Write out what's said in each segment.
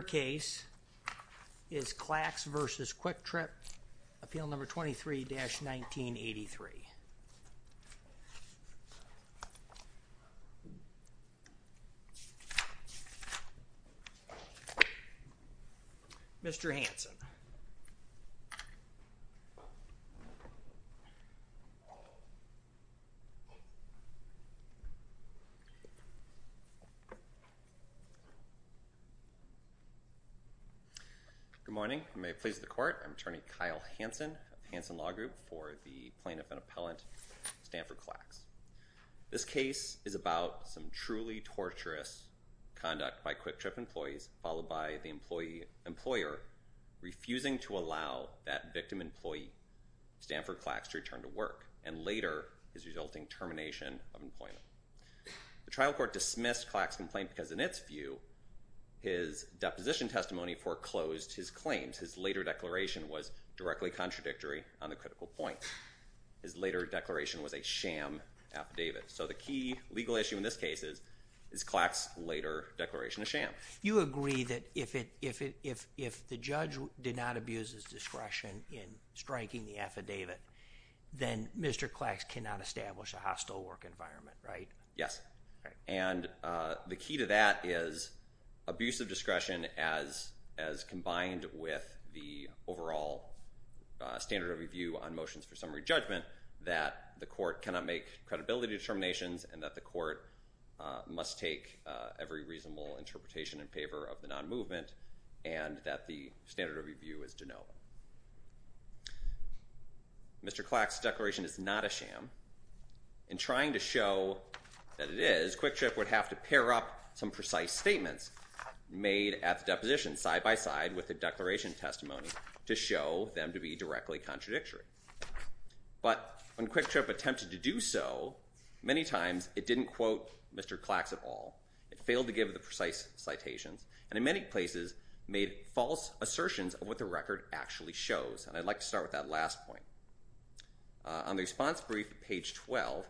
Your case is Clacks v. Kwik Trip, Appeal No. 23-1983. Mr. Hanson Good morning, and may it please the Court, I'm Attorney Kyle Hanson of the Hanson Law Group for the Plaintiff and Appellant, Stanford Clacks. This case is about some truly torturous conduct by Kwik Trip employees, followed by the employer refusing to allow that victim employee, Stanford Clacks, to return to work, and later his resulting termination of employment. The trial court dismissed Clacks' complaint because in its view, his deposition testimony foreclosed his claims. His later declaration was directly contradictory on the critical point. His later declaration was a sham affidavit. So the key legal issue in this case is Clacks' later declaration of sham. You agree that if the judge did not abuse his discretion in striking the affidavit, then Mr. Clacks cannot establish a hostile work environment, right? Yes. And the key to that is abuse of discretion as combined with the overall standard of review on motions for summary judgment, that the court cannot make credibility determinations and that the court must take every reasonable interpretation in favor of the non-movement and that the standard of review is de novo. Mr. Clacks' declaration is not a sham. In trying to show that it is, Kwik Trip would have to pair up some precise statements made at the deposition side by side with the declaration testimony to show them to be directly contradictory. But when Kwik Trip attempted to do so, many times it didn't quote Mr. Clacks at all. It failed to give the precise citations and in many places made false assertions of what the record actually shows. And I'd like to start with that last point. On the response brief at page 12,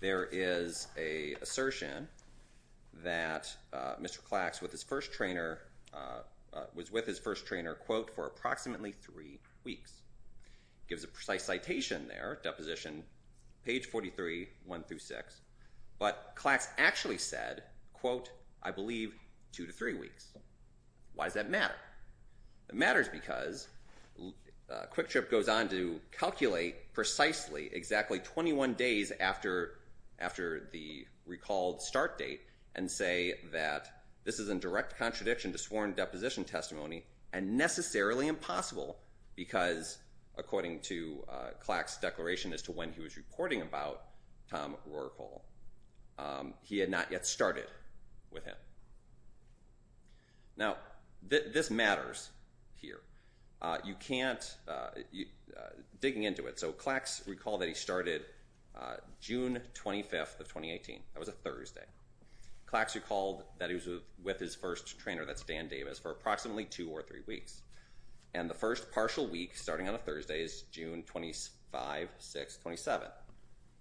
there is an assertion that Mr. Clacks was with his first trainer, quote, for approximately three weeks. Gives a precise citation there, deposition, page 43, one through six. But Clacks actually said, quote, I believe two to three weeks. Why does that matter? It matters because Kwik Trip goes on to calculate precisely exactly 21 days after the recalled start date and say that this is in direct contradiction to sworn deposition testimony and necessarily impossible because according to Clacks' declaration as to when he was reporting about Tom Rourke Hall, he had not yet started with him. Now this matters here. You can't, digging into it, so Clacks recalled that he started June 25th of 2018. That was a Thursday. Clacks recalled that he was with his first trainer, that's Dan Davis, for approximately two or three weeks. And the first partial week starting on a Thursday is June 25th, 26th, 27th.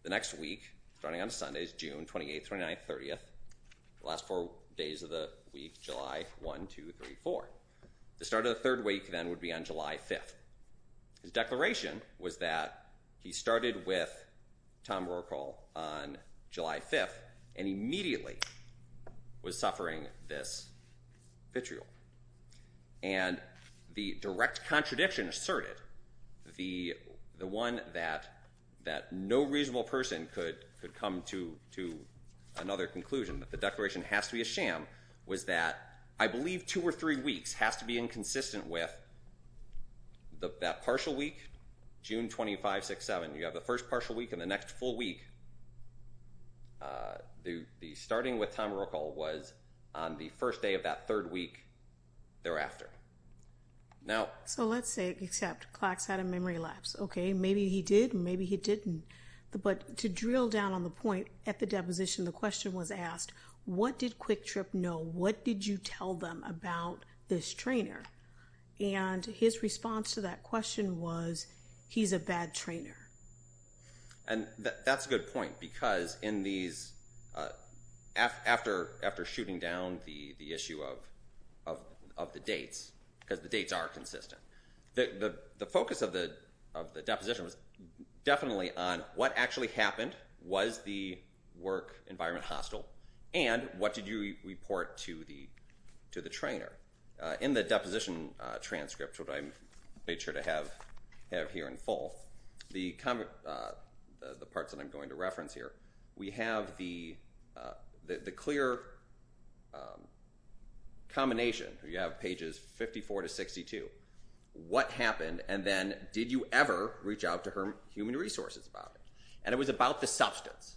The next week starting on Sunday is June 28th, 29th, 30th. Last four days of the week, July 1, 2, 3, 4. The start of the third week then would be on July 5th. His declaration was that he started with Tom Rourke Hall on July 5th and immediately was suffering this vitriol. And the direct contradiction asserted, the one that no reasonable person could come to another conclusion, that the declaration has to be a sham, was that I believe two or three That partial week, June 25th, 26th, 27th, you have the first partial week and the next full week, the starting with Tom Rourke Hall was on the first day of that third week thereafter. So let's say, except Clacks had a memory lapse. Okay, maybe he did, maybe he didn't. But to drill down on the point at the deposition, the question was asked, what did Quick Trip know? What did you tell them about this trainer? And his response to that question was, he's a bad trainer. And that's a good point because in these, after shooting down the issue of the dates, because the dates are consistent, the focus of the deposition was definitely on what actually happened, was the work environment hostile, and what did you report to the trainer? In the deposition transcript, which I made sure to have here in full, the parts that I'm going to reference here, we have the clear combination. You have pages 54 to 62. What happened and then did you ever reach out to human resources about it? And it was about the substance.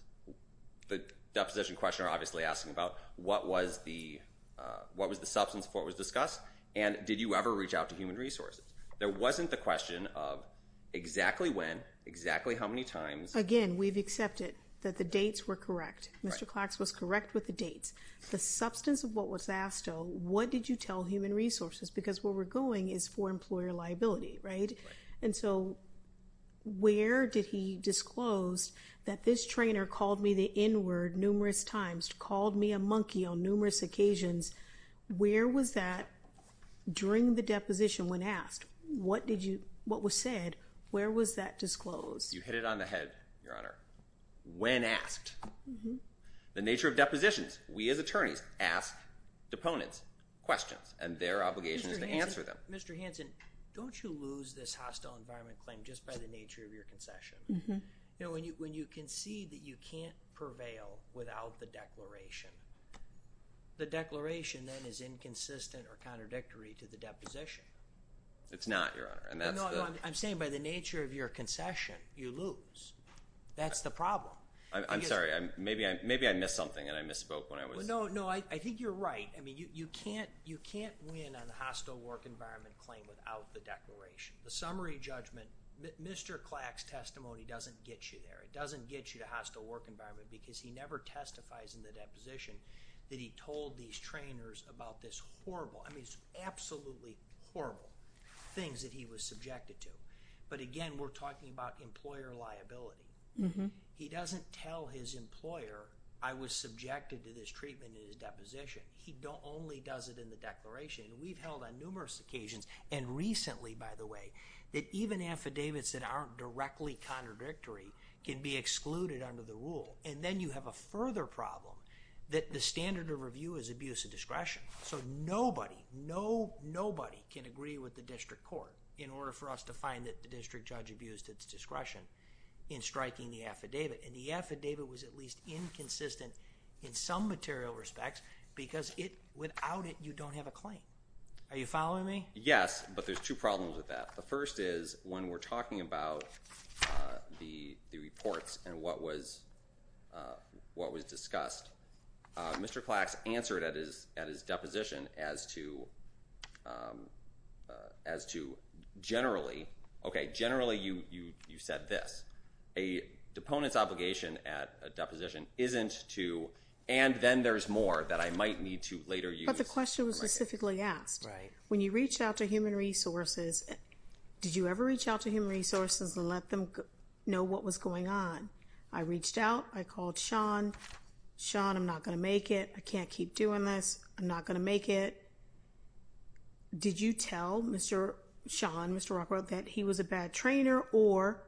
The deposition questioner obviously asking about what was the substance of what was discussed and did you ever reach out to human resources? There wasn't the question of exactly when, exactly how many times. Again, we've accepted that the dates were correct. Mr. Clacks was correct with the dates. The substance of what was asked, though, what did you tell human resources? Because where we're going is for employer liability, right? And so where did he disclose that this trainer called me the N-word numerous times, called me a monkey on numerous occasions, where was that during the deposition when asked? What was said, where was that disclosed? You hit it on the head, Your Honor. When asked. The nature of depositions, we as attorneys ask deponents questions and their obligation is to answer them. Mr. Hanson, don't you lose this hostile environment claim just by the nature of your concession? When you concede that you can't prevail without the declaration, the declaration then is inconsistent or contradictory to the deposition. It's not, Your Honor. I'm saying by the nature of your concession, you lose. That's the problem. I'm sorry. Maybe I missed something and I misspoke when I was... No, I think you're right. I mean, you can't win on the hostile work environment claim without the declaration. The summary judgment, Mr. Clack's testimony doesn't get you there. It doesn't get you to hostile work environment because he never testifies in the deposition that he told these trainers about this horrible, I mean, absolutely horrible things that he was subjected to. But again, we're talking about employer liability. He doesn't tell his employer, I was subjected to this treatment in his deposition. He only does it in the declaration and we've held on numerous occasions and recently, by the way, that even affidavits that aren't directly contradictory can be excluded under the rule. And then you have a further problem that the standard of review is abuse of discretion. So nobody, nobody can agree with the district court in order for us to find that the district judge abused its discretion in striking the affidavit and the affidavit was at least inconsistent in some material respects because it, without it, you don't have a claim. Are you following me? Yes. But there's two problems with that. The first is when we're talking about the reports and what was discussed, Mr. Clack's answered at his deposition as to generally, okay, generally you said this, a deponent's position at a deposition isn't to, and then there's more that I might need to later use. But the question was specifically asked, when you reach out to human resources, did you ever reach out to human resources and let them know what was going on? I reached out, I called Sean, Sean, I'm not going to make it, I can't keep doing this, I'm not going to make it. Did you tell Mr. Sean, Mr. Rockwell, that he was a bad trainer or,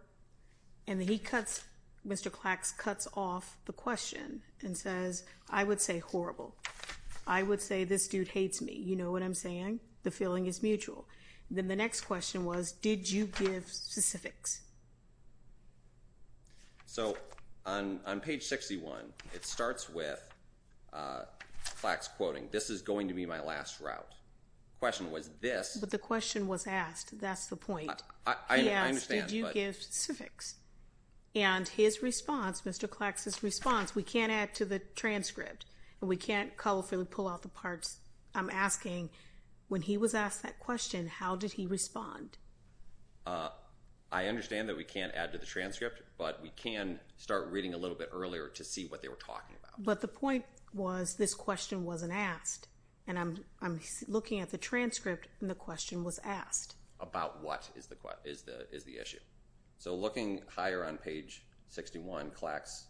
and he cuts, Mr. Clack's cuts off the question and says, I would say horrible. I would say this dude hates me. You know what I'm saying? The feeling is mutual. And then the next question was, did you give specifics? So on page 61, it starts with Clack's quoting, this is going to be my last route. Question was this. But the question was asked. That's the point. I understand. He asked, did you give specifics? And his response, Mr. Clack's response, we can't add to the transcript and we can't colorfully pull out the parts. I'm asking, when he was asked that question, how did he respond? I understand that we can't add to the transcript, but we can start reading a little bit earlier to see what they were talking about. But the point was this question wasn't asked. And I'm looking at the transcript and the question was asked. About what is the issue? So looking higher on page 61, Clack's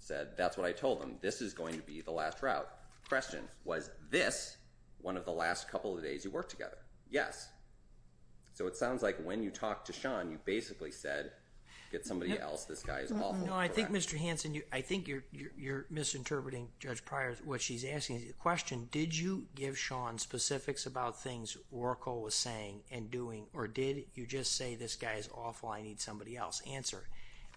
said, that's what I told him. This is going to be the last route. Question, was this one of the last couple of days you worked together? Yes. So it sounds like when you talked to Sean, you basically said, get somebody else. This guy is awful. No, I think, Mr. Hanson, I think you're misinterpreting Judge Pryor. What she's asking is the question, did you give Sean specifics about things Oracle was saying and doing, or did you just say, this guy is awful, I need somebody else? Answer,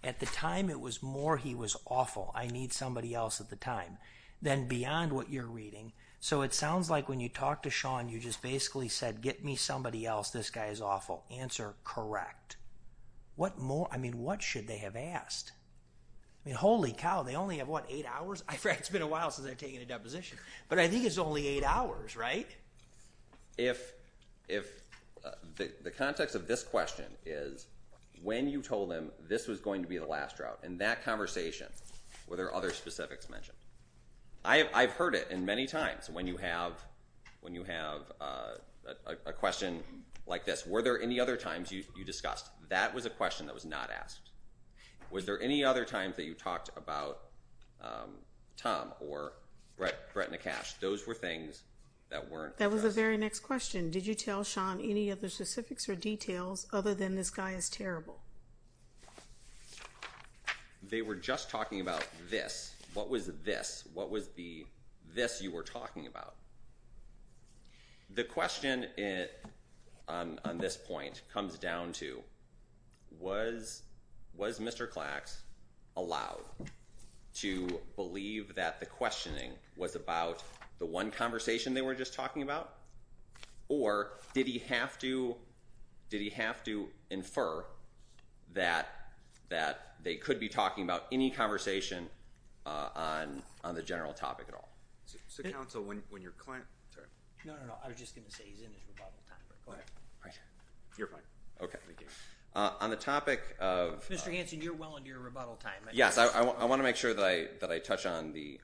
at the time it was more he was awful, I need somebody else at the time, than beyond what you're reading. So it sounds like when you talked to Sean, you just basically said, get me somebody else, this guy is awful. Answer, correct. What more, I mean, what should they have asked? I mean, holy cow, they only have, what, eight hours? In fact, it's been a while since I've taken a deposition. But I think it's only eight hours, right? If the context of this question is, when you told them this was going to be the last drought, in that conversation, were there other specifics mentioned? I've heard it in many times, when you have a question like this, were there any other times you discussed? That was a question that was not asked. Was there any other times that you talked about Tom or Brett Nekash? Those were things that weren't discussed. That was the very next question. Did you tell Sean any of the specifics or details, other than this guy is terrible? They were just talking about this. What was this? What was the this you were talking about? The question on this point comes down to, was Mr. Klax allowed to believe that the questioning was about the one conversation they were just talking about? Or did he have to infer that they could be talking about any conversation on the general topic at all? So, counsel, when your client, sorry. No, no, no. I was just going to say he's in his rebuttal time. Go ahead. You're fine. Okay. Thank you. On the topic of- Mr. Hanson, you're well into your rebuttal time. Yes. I want to make sure that I touch on the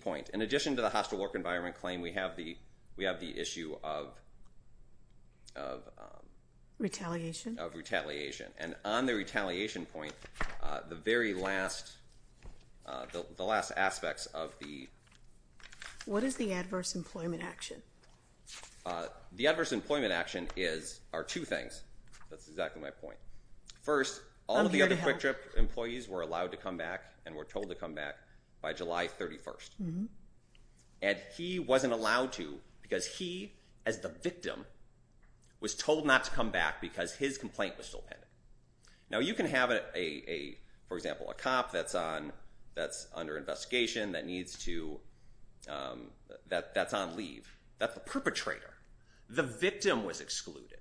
point. In addition to the hostile work environment claim, we have the issue of retaliation. And on the retaliation point, the very last, the last aspects of the- What is the adverse employment action? The adverse employment action is, are two things. That's exactly my point. I'm here to help. One, the district employees were allowed to come back and were told to come back by July 31st. And he wasn't allowed to because he, as the victim, was told not to come back because his complaint was still pending. Now you can have a, for example, a cop that's on, that's under investigation, that needs to, that's on leave, that's a perpetrator. The victim was excluded.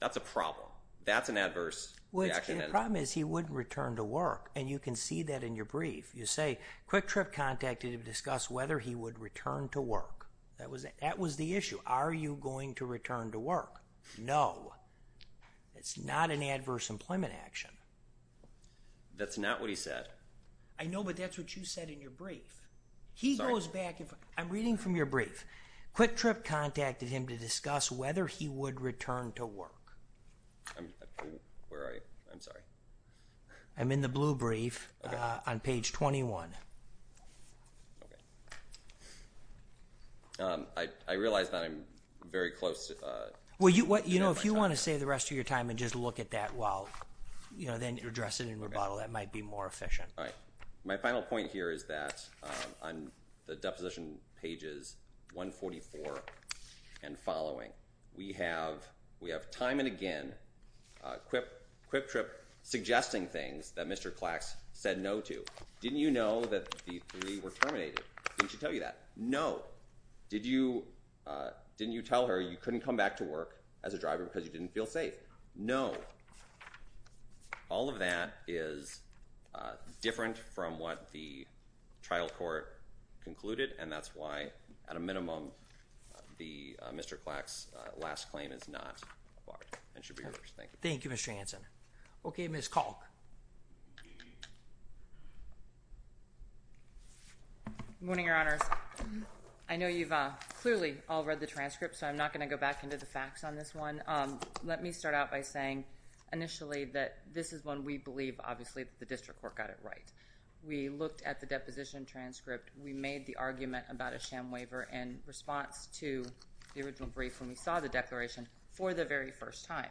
That's a problem. That's an adverse reaction. The problem is he wouldn't return to work. And you can see that in your brief. You say, Quick Trip contacted him to discuss whether he would return to work. That was, that was the issue. Are you going to return to work? No. It's not an adverse employment action. That's not what he said. I know, but that's what you said in your brief. He goes back and forth. I'm reading from your brief. Quick Trip contacted him to discuss whether he would return to work. Where are you? I'm sorry. I'm in the blue brief, on page 21. Okay. I realize that I'm very close to... Well, you know, if you want to save the rest of your time and just look at that while, you know, then address it in rebuttal, that might be more efficient. All right. My final point here is that on the deposition pages 144 and following, we have, we have time and again, Quick Trip suggesting things that Mr. Klax said no to. Didn't you know that the three were terminated? Didn't she tell you that? No. Did you, didn't you tell her you couldn't come back to work as a driver because you didn't feel safe? No. All of that is different from what the trial court concluded, and that's why, at a minimum, the, Mr. Klax's last claim is not barred and should be reversed. Thank you. Thank you, Mr. Hanson. Okay, Ms. Kalk. Good morning, Your Honors. I know you've clearly all read the transcript, so I'm not going to go back into the facts on this one. Let me start out by saying initially that this is one we believe, obviously, that the district court got it right. We looked at the deposition transcript. We made the argument about a sham waiver in response to the original brief when we saw the declaration for the very first time.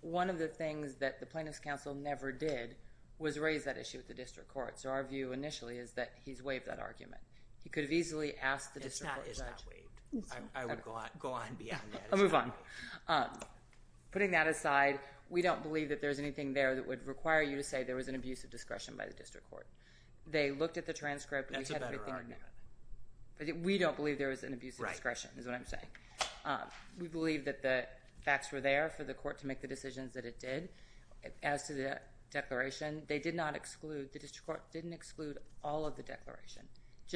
One of the things that the plaintiff's counsel never did was raise that issue with the district court, so our view initially is that he's waived that argument. He could have easily asked the district court judge. It's not waived. I would go on beyond that. I'll move on. Putting that aside, we don't believe that there's anything there that would require you to say there was an abuse of discretion by the district court. They looked at the transcript. That's a better argument. We don't believe there was an abuse of discretion is what I'm saying. We believe that the facts were there for the court to make the decisions that it did. As to the declaration, they did not exclude, the district court didn't exclude all of the declaration.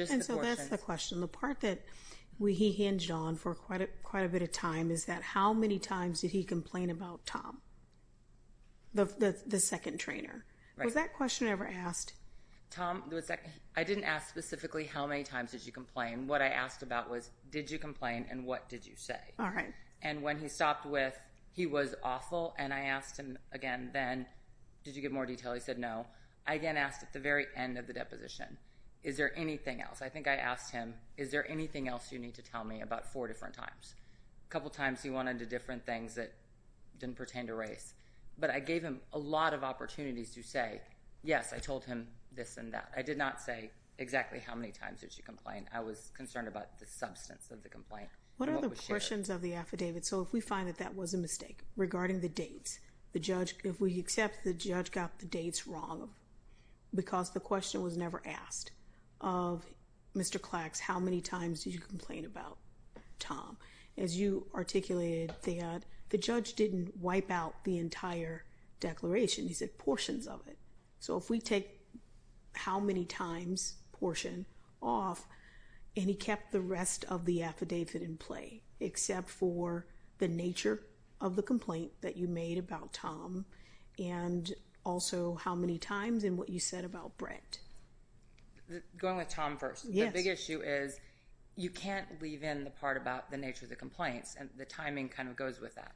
And so that's the question. The part that he hinged on for quite a bit of time is that how many times did he complain about Tom, the second trainer? Was that question ever asked? Tom, I didn't ask specifically how many times did you complain? What I asked about was did you complain and what did you say? All right. And when he stopped with he was awful and I asked him again then, did you give more detail? He said no. I again asked at the very end of the deposition, is there anything else? I think I asked him, is there anything else you need to tell me about four different times? A couple times he went into different things that didn't pertain to race. But I gave him a lot of opportunities to say, yes, I told him this and that. I did not say exactly how many times did you complain. I was concerned about the substance of the complaint. What are the portions of the affidavit? So if we find that that was a mistake regarding the dates, if we accept the judge got the dates wrong because the question was never asked of Mr. Klax, how many times did you complain about Tom? As you articulated that, the judge didn't wipe out the entire declaration. He said portions of it. So if we take how many times portion off and he kept the rest of the affidavit in play except for the nature of the complaint that you made about Tom and also how many times and what you said about Brent. Going with Tom first. Yes. The big issue is you can't leave in the part about the nature of the complaints. And the timing kind of goes with that.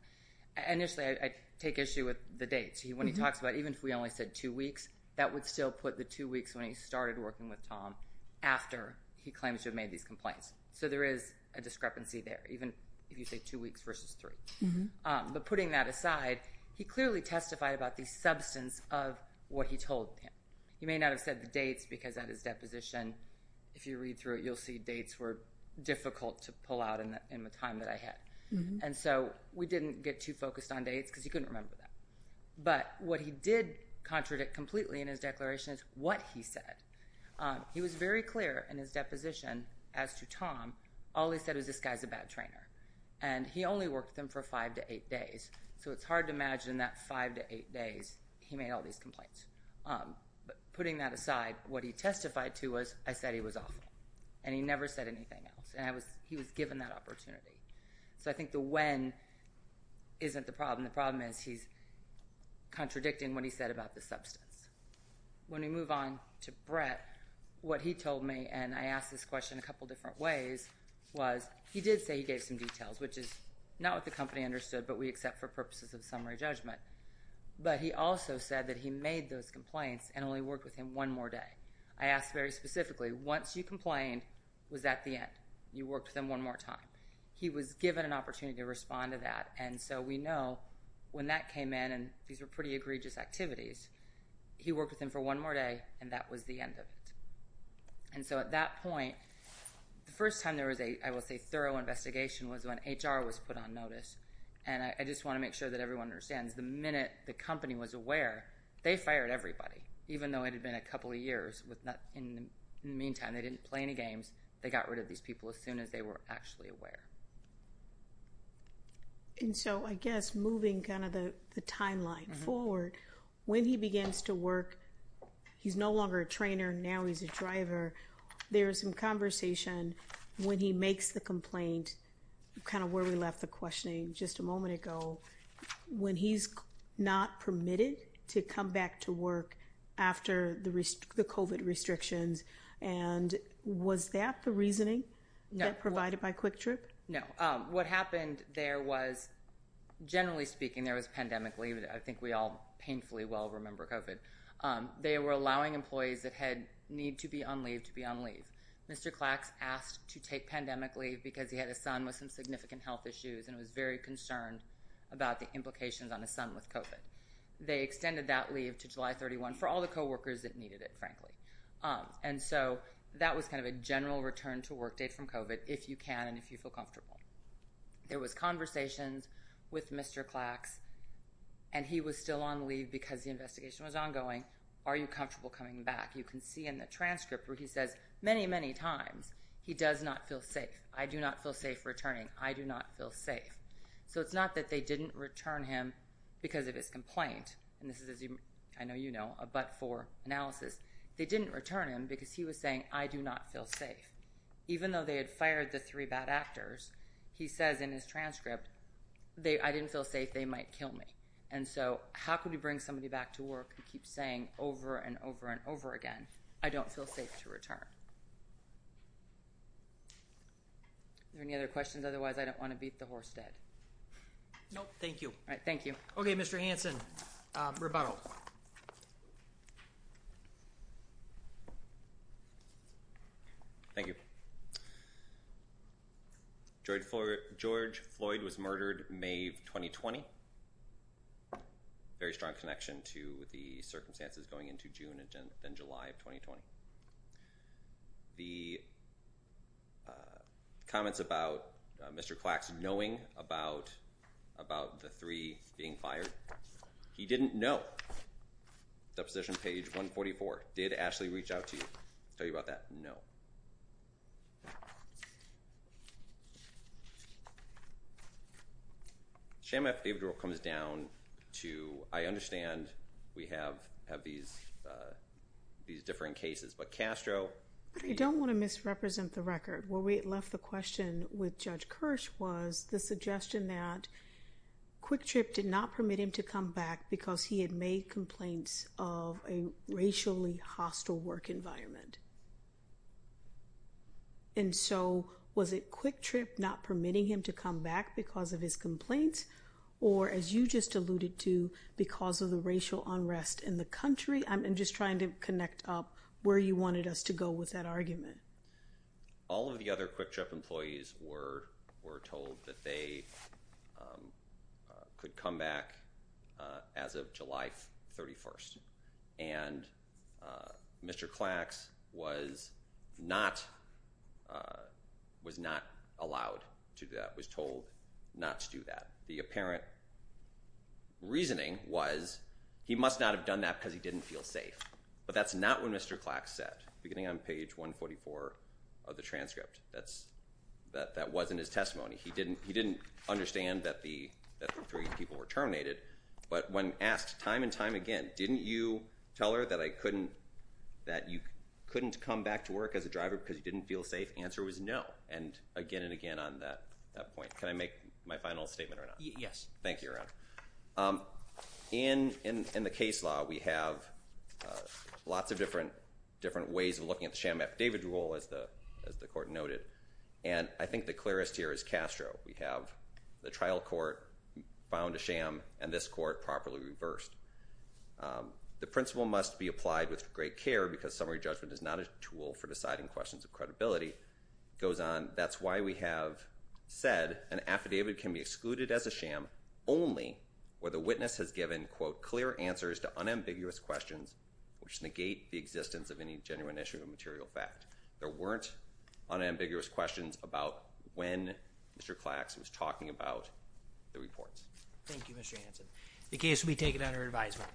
Initially, I take issue with the dates. When he talks about even if we only said two weeks, that would still put the two weeks when he started working with Tom after he claims to have made these complaints. So there is a discrepancy there, even if you say two weeks versus three. But putting that aside, he clearly testified about the substance of what he told him. He may not have said the dates because at his deposition, if you read through it, you'll see dates were difficult to pull out in the time that I had. And so we didn't get too focused on dates because he couldn't remember that. But what he did contradict completely in his declaration is what he said. He was very clear in his deposition as to Tom. All he said was this guy is a bad trainer. And he only worked with him for five to eight days. So it's hard to imagine that five to eight days he made all these complaints. But putting that aside, what he testified to was I said he was awful, and he never said anything else, and he was given that opportunity. So I think the when isn't the problem. The problem is he's contradicting what he said about the substance. When we move on to Brett, what he told me, and I asked this question a couple different ways, was he did say he gave some details, which is not what the company understood, but we accept for purposes of summary judgment. But he also said that he made those complaints and only worked with him one more day. I asked very specifically, once you complained, was that the end? You worked with him one more time? He was given an opportunity to respond to that, and so we know when that came in, and these were pretty egregious activities, he worked with him for one more day, and that was the end of it. And so at that point, the first time there was a, I will say, thorough investigation was when HR was put on notice. And I just want to make sure that everyone understands the minute the company was aware, they fired everybody, even though it had been a couple of years. In the meantime, they didn't play any games. They got rid of these people as soon as they were actually aware. And so I guess moving kind of the timeline forward, when he begins to work, he's no longer a trainer. Now he's a driver. There is some conversation when he makes the complaint, kind of where we left the questioning just a moment ago, when he's not permitted to come back to work after the COVID restrictions. And was that the reasoning provided by Quick Trip? No. What happened there was, generally speaking, there was pandemic leave. I think we all painfully well remember COVID. They were allowing employees that had need to be on leave to be on leave. Mr. Klax asked to take pandemic leave because he had a son with some significant health issues and was very concerned about the implications on his son with COVID. They extended that leave to July 31 for all the co-workers that needed it, frankly. And so that was kind of a general return to work date from COVID, if you can and if you feel comfortable. There was conversations with Mr. Klax, and he was still on leave because the investigation was ongoing. Are you comfortable coming back? You can see in the transcript where he says many, many times he does not feel safe. I do not feel safe returning. I do not feel safe. So it's not that they didn't return him because of his complaint, and this is, as I know you know, a but-for analysis. They didn't return him because he was saying, I do not feel safe. Even though they had fired the three bad actors, he says in his transcript, I didn't feel safe. They might kill me. And so how can we bring somebody back to work who keeps saying over and over and over again, I don't feel safe to return? Are there any other questions? Otherwise, I don't want to beat the horse dead. No, thank you. All right, thank you. Okay, Mr. Hanson, rebuttal. Thank you. George Floyd was murdered May of 2020. Very strong connection to the circumstances going into June and July of 2020. The comments about Mr. Klax knowing about the three being fired, he didn't know. Deposition page 144. Did Ashley reach out to you to tell you about that? No. Shame after David comes down to, I understand we have these different cases. But Castro. I don't want to misrepresent the record. Where we left the question with Judge Kirsch was the suggestion that Quick Trip did not permit him to come back because he had made complaints of a racially hostile work environment. And so, was it Quick Trip not permitting him to come back because of his complaints? Or as you just alluded to, because of the racial unrest in the country? I'm just trying to connect up where you wanted us to go with that argument. All of the other Quick Trip employees were told that they could come back as of July 31st. And Mr. Klax was not allowed to do that. Was told not to do that. The apparent reasoning was he must not have done that because he didn't feel safe. But that's not what Mr. Klax said. Beginning on page 144 of the transcript. That wasn't his testimony. He didn't understand that the three people were terminated. But when asked time and time again, didn't you tell her that you couldn't come back to work as a driver because you didn't feel safe? The answer was no. And again and again on that point. Can I make my final statement or not? Yes. Thank you, Your Honor. In the case law, we have lots of different ways of looking at the sham affidavit rule, as the Court noted. And I think the clearest here is Castro. We have the trial court found a sham and this court properly reversed. The principle must be applied with great care because summary judgment is not a tool for deciding questions of credibility. It goes on, that's why we have said an affidavit can be excluded as a sham only where the witness has given, quote, clear answers to unambiguous questions which negate the existence of any genuine issue of material fact. There weren't unambiguous questions about when Mr. Clax was talking about the reports. Thank you, Mr. Hanson. The case will be taken under advisement.